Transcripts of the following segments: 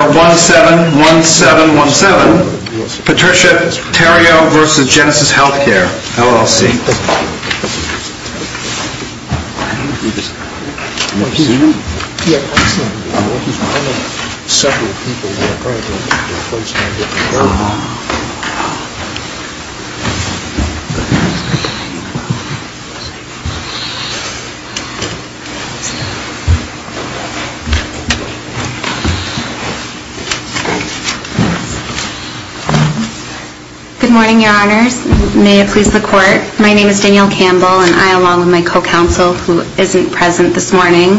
1-7-1-7-1-7 Patricia Theriault v. Genesis Healthcare LLC Good morning, your honors. May it please the court, my name is Danielle Campbell and I, along with my co-counsel, who isn't present this morning,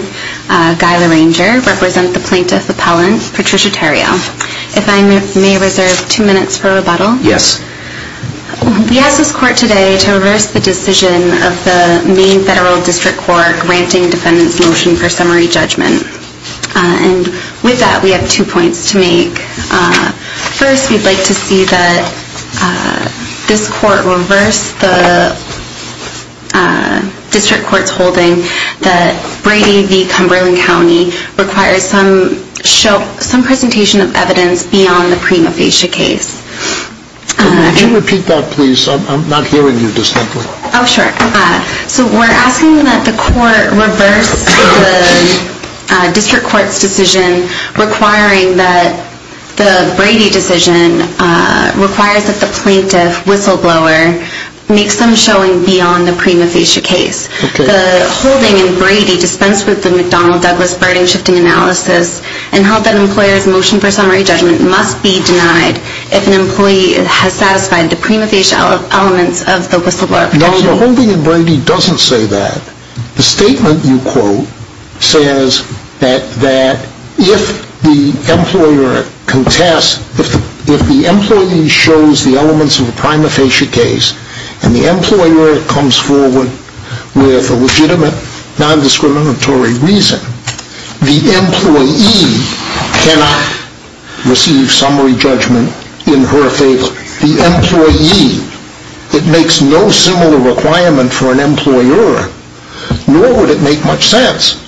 Guy Larranger, represent the plaintiff appellant, Patricia Theriault. If I may reserve two minutes for rebuttal. Yes. We ask this court today to reverse the decision of the Maine Federal District Court granting defendants' motion for summary judgment. And with that, we have two points to make. First, we'd like to see that this court reverse the district court's holding that Brady v. Cumberland County requires some presentation of evidence beyond the prima facie case. Could you repeat that, please? I'm not hearing you distinctly. Oh, sure. So we're asking that the court reverse the district court's decision requiring that the Brady decision requires that the plaintiff, Whistleblower, make some showing beyond the prima facie case. The holding in Brady dispensed with the McDonnell Douglas burden shifting analysis and held that an employer's motion for summary judgment must be denied if an employee has satisfied the prima facie elements of the Whistleblower case. No, the holding in Brady doesn't say that. The statement you quote says that if the employer contests, if the employee shows the elements of the prima facie case and the employer comes forward with a legitimate non-discriminatory reason, the employee cannot receive summary judgment in her favor. The employee. It makes no similar requirement for an employer, nor would it make much sense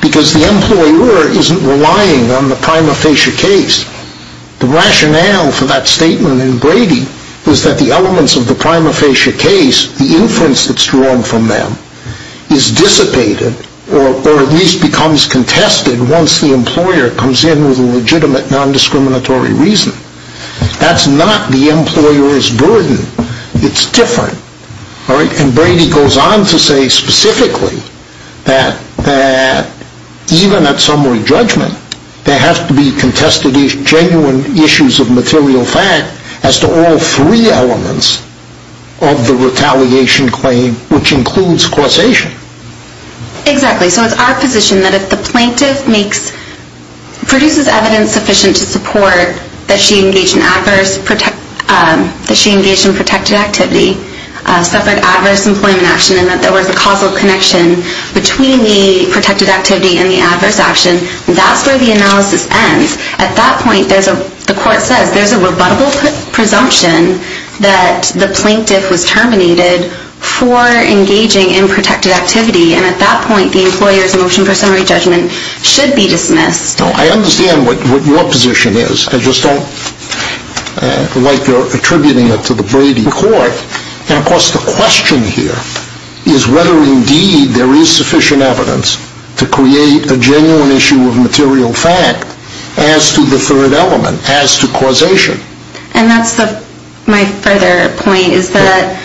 because the employer isn't relying on the prima facie case. The rationale for that statement in Brady is that the elements of the prima facie case, the inference that's drawn from them, is dissipated or at least becomes contested once the employer comes in with a legitimate non-discriminatory reason. That's not the employer's burden. It's different. All right? And Brady goes on to say specifically that even at summary judgment, there have to be contested genuine issues of material fact as to all three elements of the retaliation claim, which includes causation. Exactly. So it's our position that if the plaintiff makes, produces evidence sufficient to support that she engaged in adverse, that she engaged in protected activity, suffered adverse employment action and that there was a causal connection between the protected activity and the adverse action, that's where the analysis ends. At that point, there's a, the court says there's a rebuttable presumption that the plaintiff was terminated for engaging in protected activity. And at that point, the employer's motion for summary judgment should be dismissed. Now, I understand what, what your position is. I just don't like your attributing it to the Brady court. And of course, the question here is whether indeed there is sufficient evidence to create a genuine issue of material fact as to the third element, as to causation. And that's the, my further point is that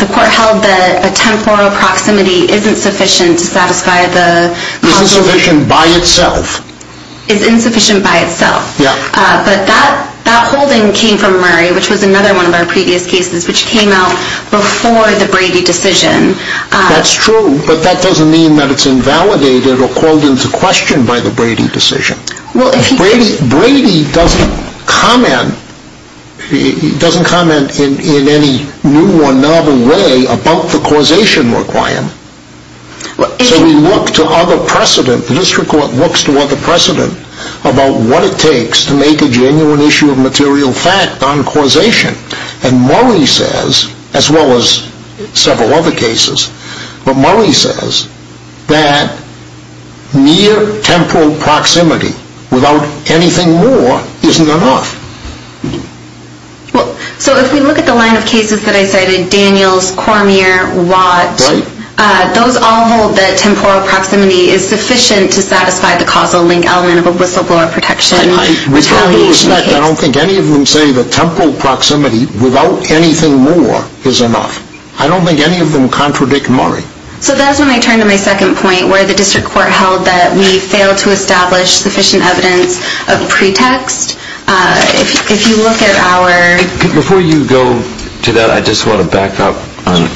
the court held that a temporal proximity isn't sufficient to satisfy the... Isn't sufficient by itself. Is insufficient by itself. Yeah. But that, that holding came from Murray, which was another one of our previous cases, which came out before the Brady decision. That's true, but that doesn't mean that it's invalidated or called into question by the Brady decision. Well, if he... Brady, Brady doesn't comment, he doesn't comment in, in any new or novel way about the causation requirement. But... So we look to other precedent, the district court looks to other precedent about what it takes to make a genuine issue of material fact on causation. And Murray says, as well as several other cases, but Murray says that near temporal proximity without anything more isn't enough. Well, so if we look at the line of cases that I cited, Daniels, Cormier, Watt... Right. Those all hold that temporal proximity is sufficient to satisfy the causal link element of a whistleblower protection... I, I, regardless of that, I don't think any of them say that temporal proximity without anything more is enough. I don't think any of them contradict Murray. So that's when I turn to my second point, where the district court held that we failed to establish sufficient evidence of pretext. If, if you look at our... Before you go to that, I just want to back up on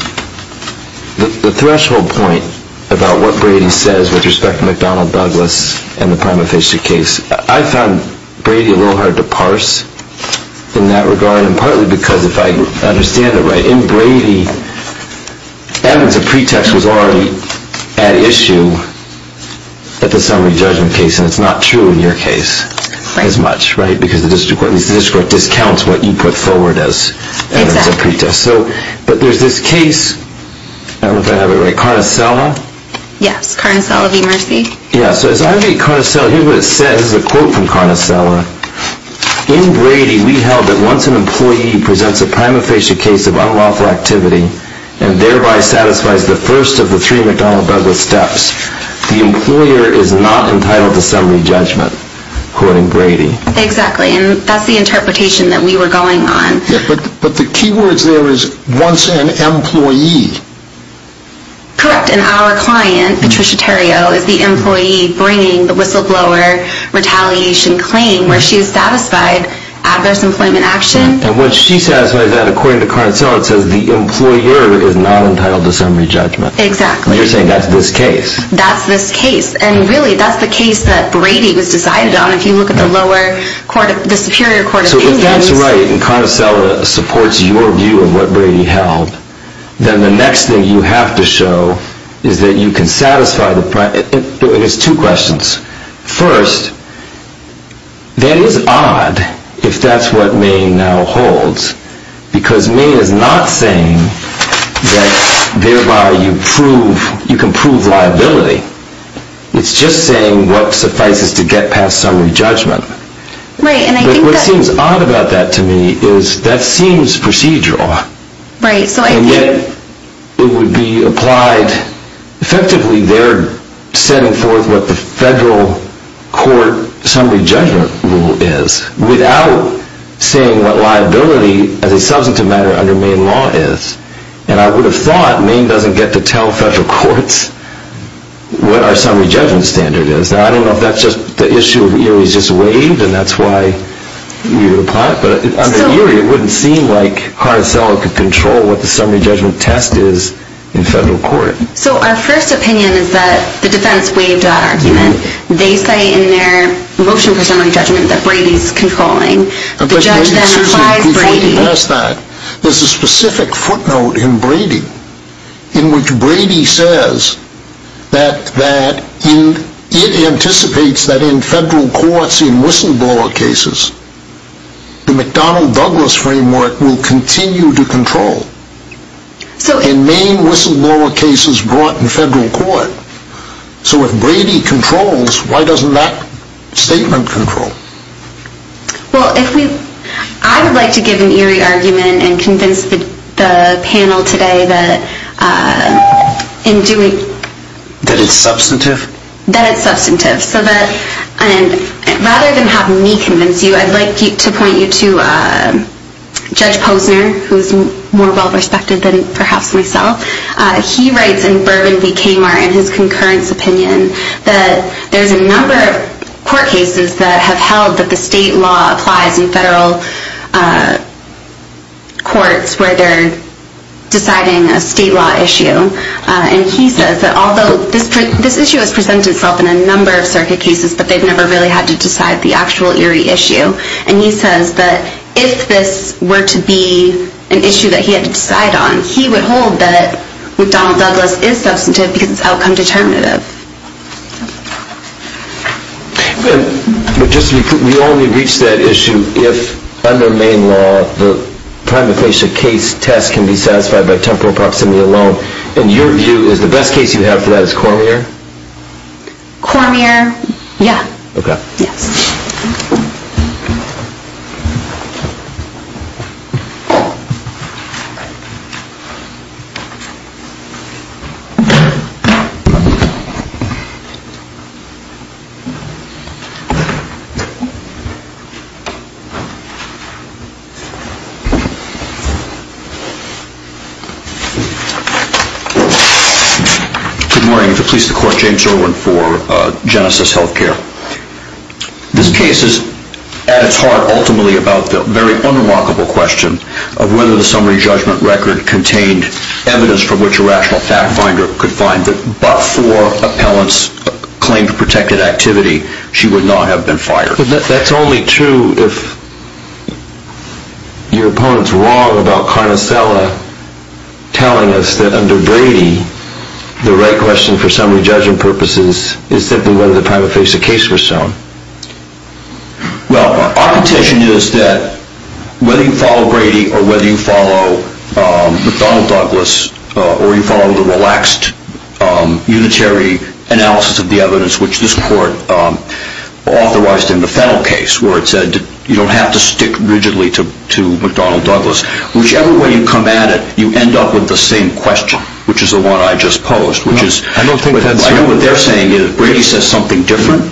the, the threshold point about what Brady says with respect to McDonnell Douglas and the prima facie case. I found Brady a In Brady, evidence of pretext was already at issue at the summary judgment case, and it's not true in your case as much, right? Because the district court, at least the district court discounts what you put forward as evidence of pretext. Exactly. So, but there's this case, I don't know if I have it right, Carnicella? Yes, Carnicella v. Mercy. Yeah, so as I read Carnicella, here's what it says, this is a quote from Carnicella. In Brady, we held that once an employee presents a prima facie case of unlawful activity and thereby satisfies the first of the three McDonnell Douglas steps, the employer is not entitled to summary judgment, quoting Brady. Exactly, and that's the interpretation that we were going on. Yeah, but, but the key word there is once an employee. Correct, and our client, Patricia Terrio, is the employee bringing the whistleblower retaliation claim where she has satisfied adverse employment action. And when she satisfies that, according to Carnicella, it says the employer is not entitled to summary judgment. Exactly. You're saying that's this case. That's this case, and really, that's the case that Brady was decided on, if you look at the lower court, the superior court opinions. So if that's right, and Carnicella supports your view of what Brady held, then the next thing you have to show is that you can satisfy the, and it's two questions. First, that is odd, if that's what May now holds, because May is not saying that thereby you prove, you can prove liability. It's just saying what suffices to get past summary judgment. Right, and I think that. What seems odd about that to me is that seems procedural. Right, so I think. It would be applied effectively there setting forth what the federal court summary judgment rule is without saying what liability as a substantive matter under Maine law is. And I would have thought Maine doesn't get to tell federal courts what our summary judgment standard is. Now, I don't know if that's just the issue of Erie's just waived, and that's why we would But under Erie, it wouldn't seem like Carnicella could control what the summary judgment test is in federal court. So our first opinion is that the defense waived that argument. They say in their motion for summary judgment that Brady's controlling. The judge then applies Brady. There's a specific footnote in Brady, in which Brady says that it anticipates that in federal courts in whistleblower cases, the McDonnell-Douglas framework will continue to control in Maine whistleblower cases brought in federal court. So if Brady controls, why doesn't that statement control? Well, I would like to give an Erie argument and convince the panel today that in doing That it's substantive? That it's substantive. So rather than have me convince you, I'd like to point you to Judge Posner, who is more well-respected than perhaps myself. He writes in Bourbon v. Kmart in his concurrence opinion that there's a number of court cases that have held that the state law applies in federal courts where they're deciding a state law issue. And he says that although this issue has presented itself in a number of circuit cases, that they've never really had to decide the actual Erie issue. And he says that if this were to be an issue that he had to decide on, he would hold that McDonnell-Douglas is substantive because it's outcome determinative. But just to be clear, we only reach that issue if, under Maine law, the prima facie case test can be satisfied by temporal proximity alone. And your view is the best case you have for that is Cormier? Cormier, yeah. Okay. Yes. Good morning. I'm here to police the court James Irwin for Genesis Healthcare. This case is, at its heart, ultimately about the very unremarkable question of whether the summary judgment record contained evidence from which a rational fact finder could find that but for appellant's claim to protected activity, she would not have been fired. That's only true if your opponent's wrong about Carnicella telling us that under Brady, the right question for summary judgment purposes is simply whether the prima facie case was shown. Well, our intention is that whether you follow Brady or whether you follow McDonnell-Douglas or you follow the relaxed unitary analysis of the evidence, which this court authorized in the Fennel case, where it said you don't have to stick rigidly to McDonnell-Douglas. Whichever way you come at it, you end up with the same question, which is the one I just posed. I don't think that's true. I know what they're saying. Brady says something different.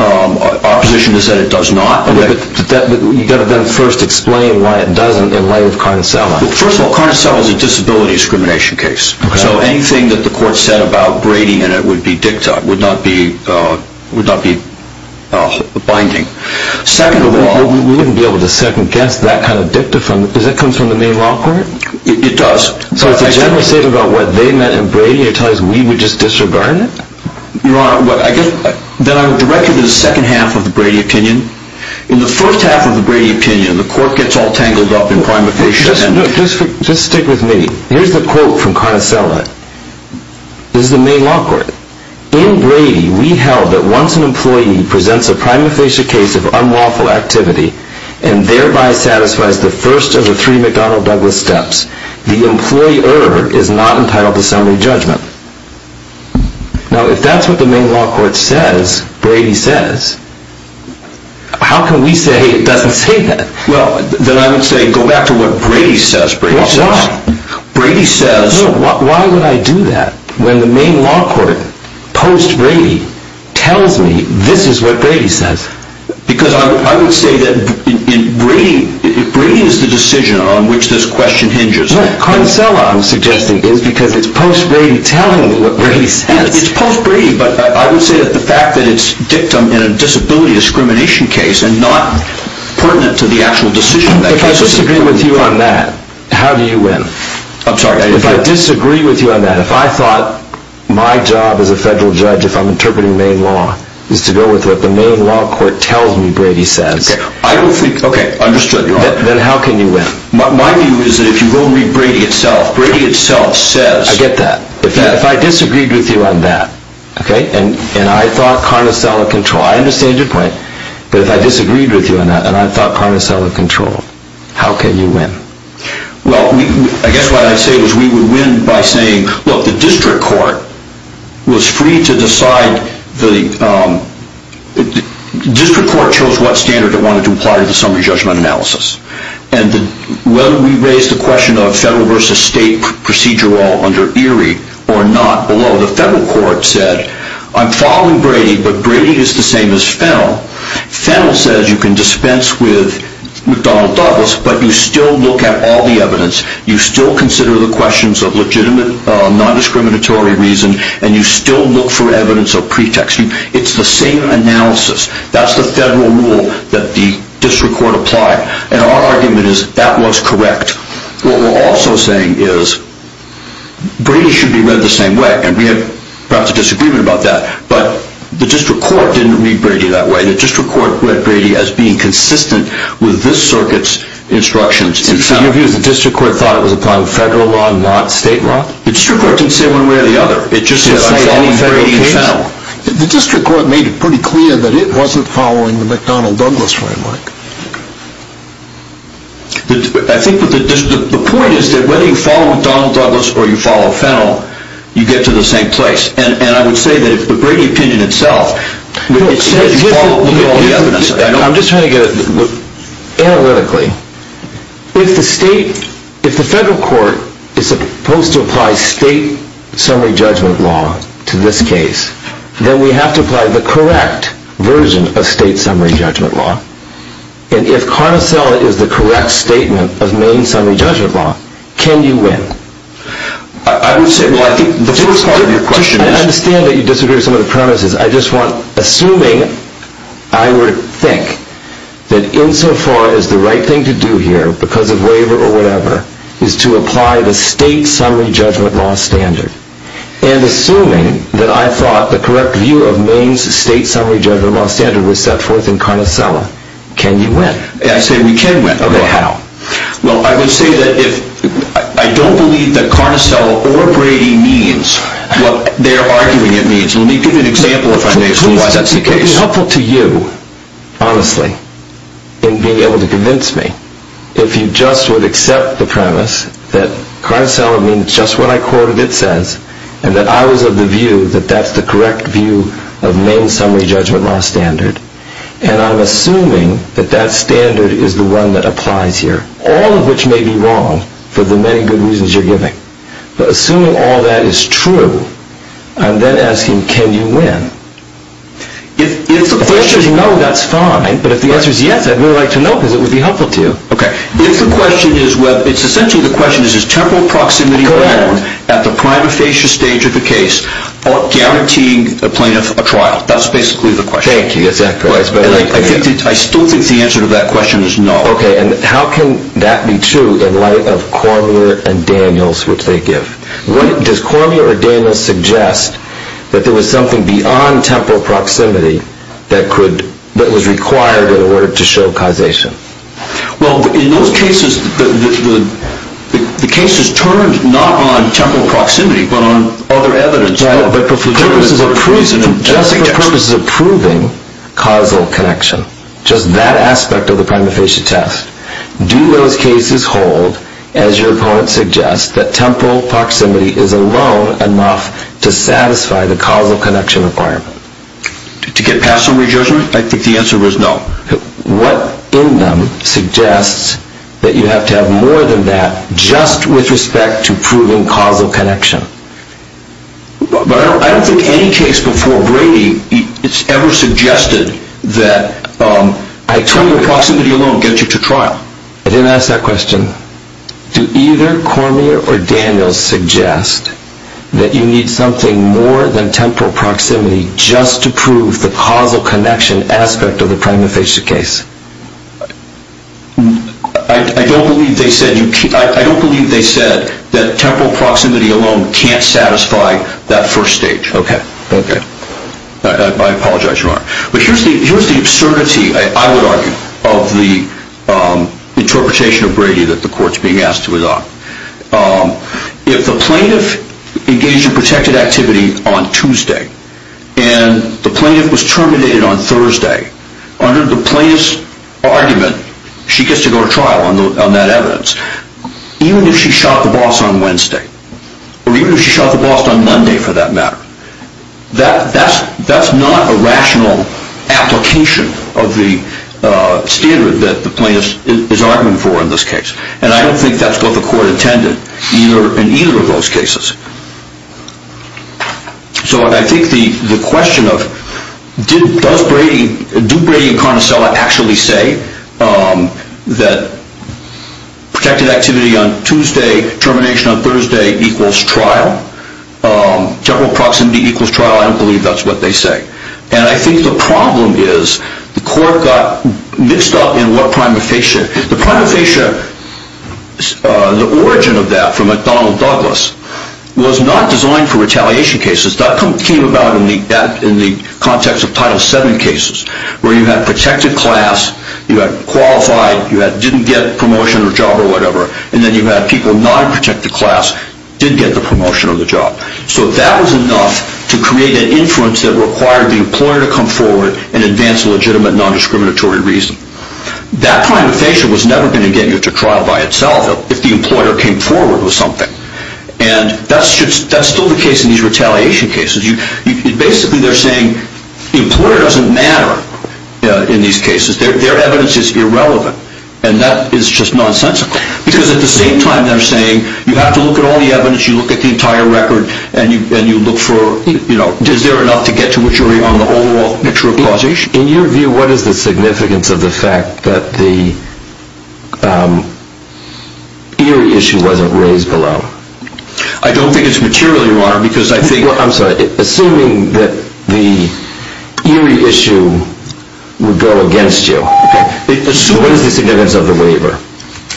Our position is that it does not. You've got to then first explain why it doesn't in light of Carnicella. First of all, Carnicella is a disability discrimination case. So anything that the court said about Brady in it would be dicta, would not be binding. Secondly, we wouldn't be able to second-guess that kind of dicta because it comes from the main law court? It does. So it's a general statement about what they meant in Brady and you're telling us we would just disregard it? Your Honor, then I would direct you to the second half of the Brady opinion. In the first half of the Brady opinion, the court gets all tangled up in prima facie and Just stick with me. Here's the quote from Carnicella. This is the main law court. In Brady, we held that once an employee presents a prima facie case of unlawful activity and thereby satisfies the first of the three McDonnell-Douglas steps, the employer is not entitled to summary judgment. Now, if that's what the main law court says, Brady says, how can we say it doesn't say that? Well, then I would say go back to what Brady says. Why? Brady says... No, why would I do that when the main law court, post-Brady, tells me this is what Brady says? Because I would say that Brady is the decision on which this question hinges. No, Carnicella, I'm suggesting, is because it's post-Brady telling me what Brady says. It's post-Brady, but I would say that the fact that it's dictum in a disability discrimination case and not pertinent to the actual decision of that case... If I disagree with you on that, how do you win? I'm sorry? If I disagree with you on that, if I thought my job as a federal judge, if I'm interpreting main law, is to go with what the main law court tells me Brady says... Okay, understood. Then how can you win? My view is that if you go and read Brady itself, Brady itself says... I get that. If I disagreed with you on that, okay, and I thought Carnicella can try, I understand your point, but if I disagreed with you on that, and I thought Carnicella controlled, how can you win? Well, I guess what I'd say is we would win by saying, look, the district court was free to decide the... District court chose what standard it wanted to apply to the summary judgment analysis. And whether we raised the question of federal versus state procedure law under Erie or not below, the federal court said, I'm following Brady, but Brady is the same as Fennell. Fennell says you can dispense with McDonnell Douglas, but you still look at all the evidence, you still consider the questions of legitimate non-discriminatory reason, and you still look for evidence of pretext. It's the same analysis. That's the federal rule that the district court applied. And our argument is that was correct. What we're also saying is Brady should be read the same way, and we have perhaps a disagreement about that, but the district court didn't read Brady that way. The district court read Brady as being consistent with this circuit's instructions. So your view is the district court thought it was applying federal law and not state law? The district court didn't say it one way or the other. It just said I'm following Brady and Fennell. The district court made it pretty clear that it wasn't following the McDonnell Douglas framework. I think the point is that whether you follow McDonnell Douglas or you follow Fennell, you get to the same place. And I would say that the Brady opinion itself, it says you follow all the evidence. I'm just trying to get it analytically. If the federal court is supposed to apply state summary judgment law to this case, then we have to apply the correct version of state summary judgment law. And if Cardocella is the correct statement of main summary judgment law, can you win? I would say, well, I think the first part of your question is... I understand that you disagree with some of the premises. I just want, assuming, I would think that insofar as the right thing to do here, because of waiver or whatever, is to apply the state summary judgment law standard. And assuming that I thought the correct view of Maine's state summary judgment law standard was set forth in Cardocella, can you win? I say we can win. Okay, how? Well, I would say that I don't believe that Cardocella or Brady means what they're arguing it means. Let me give you an example of why that's the case. It would be helpful to you, honestly, in being able to convince me, if you just would accept the premise that Cardocella means just what I quoted it says, and that I was of the view that that's the correct view of Maine's summary judgment law standard. And I'm assuming that that standard is the one that applies here, all of which may be wrong for the many good reasons you're giving. But assuming all that is true, I'm then asking, can you win? If the answer is no, that's fine. But if the answer is yes, I'd really like to know because it would be helpful to you. Okay. If the question is whether it's essentially the question is, is temporal proximity at the prima facie stage of the case guaranteeing a plaintiff a trial? That's basically the question. Thank you. That's accurate. I still think the answer to that question is no. Okay. And how can that be true in light of Cormier and Daniels, which they give? Does Cormier or Daniels suggest that there was something beyond temporal proximity that was required in order to show causation? Well, in those cases, the cases turned not on temporal proximity but on other evidence. But for purposes of proving causal connection, just that aspect of the prima facie test, do those cases hold, as your opponent suggests, that temporal proximity is alone enough to satisfy the causal connection requirement? To get past some re-judgment, I think the answer is no. What in them suggests that you have to have more than that just with respect to proving causal connection? I don't think any case before Brady has ever suggested that temporal proximity alone gets you to trial. I didn't ask that question. Do either Cormier or Daniels suggest that you need something more than temporal proximity just to prove the causal connection aspect of the prima facie case? I don't believe they said that temporal proximity alone can't satisfy that first stage. Okay. I apologize, Your Honor. But here's the absurdity, I would argue, of the interpretation of Brady that the court's being asked to adopt. If the plaintiff engaged in protected activity on Tuesday and the plaintiff was terminated on Thursday, under the plaintiff's argument, she gets to go to trial on that evidence. Even if she shot the boss on Wednesday, or even if she shot the boss on Monday for that matter, that's not a rational application of the standard that the plaintiff is arguing for in this case. And I don't think that's what the court intended in either of those cases. So I think the question of, does Brady, do Brady and Carnicella actually say that protected activity on Tuesday, termination on Thursday equals trial? Temporal proximity equals trial? I don't believe that's what they say. And I think the problem is the court got mixed up in what prima facie. The prima facie, the origin of that from McDonnell Douglas, was not designed for retaliation cases. That came about in the context of Title VII cases, where you had protected class, you had qualified, you didn't get promotion or job or whatever, and then you had people not in protected class, didn't get the promotion or the job. So that was enough to create an influence that required the employer to come forward and advance a legitimate, non-discriminatory reason. That prima facie was never going to get you to trial by itself if the employer came forward with something. And that's still the case in these retaliation cases. Basically, they're saying the employer doesn't matter in these cases. Their evidence is irrelevant. And that is just nonsensical. Because at the same time, they're saying you have to look at all the evidence, you look at the entire record, and you look for, you know, is there enough to get to what you're arguing on the overall picture of causation? In your view, what is the significance of the fact that the Erie issue wasn't raised below? I don't think it's material, Your Honor, because I think... I'm sorry. Assuming that the Erie issue would go against you. Okay. What is the significance of the waiver?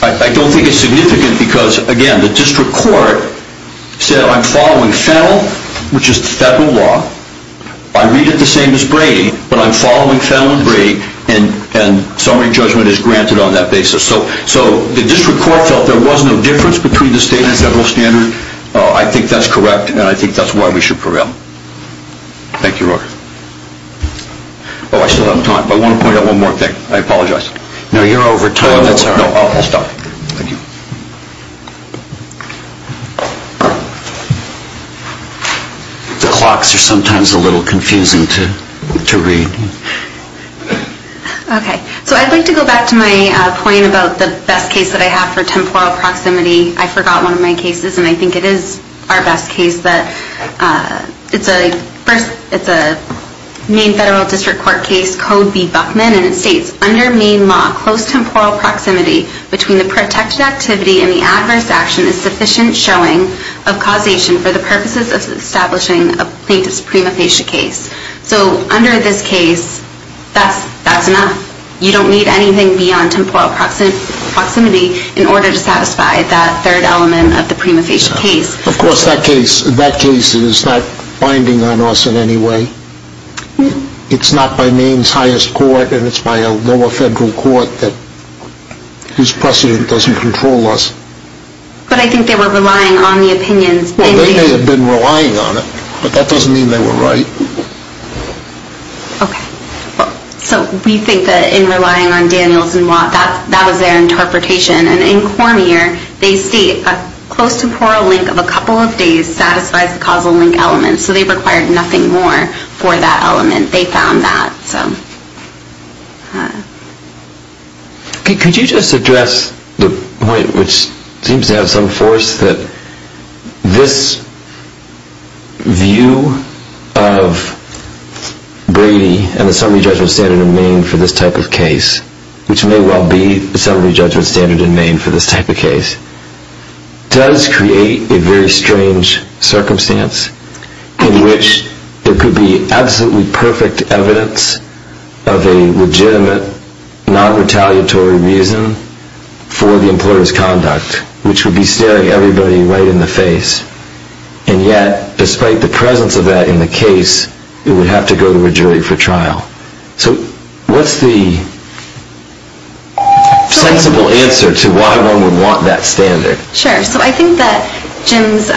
I don't think it's significant because, again, the district court said, I'm following Fennell, which is the federal law. I read it the same as Brady, but I'm following Fennell and Brady, and summary judgment is granted on that basis. So the district court felt there was no difference between the state and the federal standard. I think that's correct, and I think that's why we should prevail. Thank you, Your Honor. Oh, I still have time, but I want to point out one more thing. I apologize. No, you're over time. That's all right. No, I'll stop. Thank you. The clocks are sometimes a little confusing to read. Okay. So I'd like to go back to my point about the best case that I have for temporal proximity. I forgot one of my cases, and I think it is our best case. It's a Maine Federal District Court case, Code B. Buckman, and it states, Under Maine law, close temporal proximity between the protected activity and the adverse action is sufficient showing of causation for the purposes of establishing a plaintiff's prima facie case. So under this case, that's enough. You don't need anything beyond temporal proximity in order to satisfy that third element of the prima facie case. Of course, that case is not binding on us in any way. It's not by Maine's highest court, and it's by a lower federal court whose precedent doesn't control us. But I think they were relying on the opinions. Well, they may have been relying on it, but that doesn't mean they were right. Okay. So we think that in relying on Daniels and Watt, that was their interpretation. And in Cormier, they state a close temporal link of a couple of days satisfies the causal link element, so they required nothing more for that element. They found that. Could you just address the point, which seems to have some force, that this view of Brady and the summary judgment standard in Maine for this type of case, which may well be the summary judgment standard in Maine for this type of case, does create a very strange circumstance in which there could be absolutely perfect evidence of a legitimate, non-retaliatory reason for the employer's conduct, which would be staring everybody right in the face. And yet, despite the presence of that in the case, it would have to go to a jury for trial. So what's the sensible answer to why one would want that standard? Sure. So I think that Jim's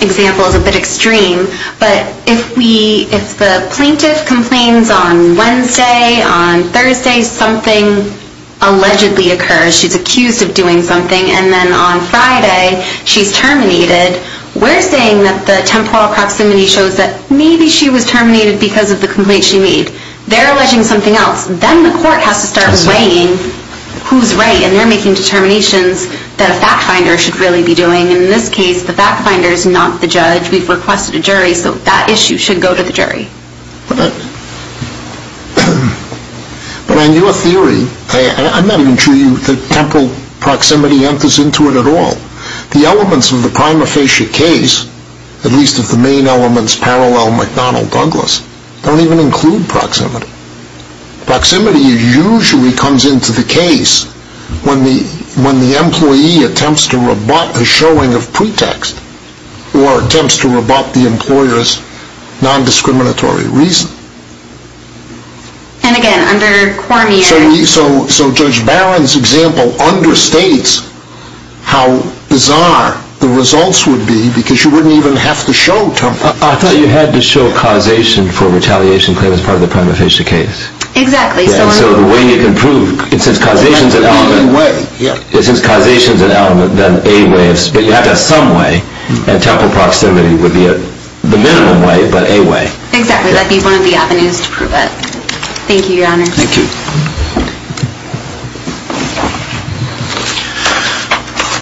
example is a bit extreme, but if the plaintiff complains on Wednesday, on Thursday something allegedly occurs, she's accused of doing something, and then on Friday she's terminated, we're saying that the temporal proximity shows that maybe she was terminated because of the complaint she made. They're alleging something else. Then the court has to start weighing who's right, and they're making determinations that a fact finder should really be doing. And in this case, the fact finder is not the judge. We've requested a jury, so that issue should go to the jury. But on your theory, I'm not even sure the temporal proximity enters into it at all. The elements of the prima facie case, at least of the main elements parallel McDonnell-Douglas, don't even include proximity. Proximity usually comes into the case when the employee attempts to rebut a showing of pretext, or attempts to rebut the employer's nondiscriminatory reason. And again, under Cormier... So Judge Barron's example understates how bizarre the results would be, because you wouldn't even have to show temporal proximity. I thought you had to show causation for retaliation claim as part of the prima facie case. Exactly. So the way you can prove, it says causation's an element, it says causation's an element, then a way of... but you have to have some way, and temporal proximity would be the minimum way, but a way. Exactly, that'd be one of the avenues to prove it. Thank you, Your Honor. Thank you.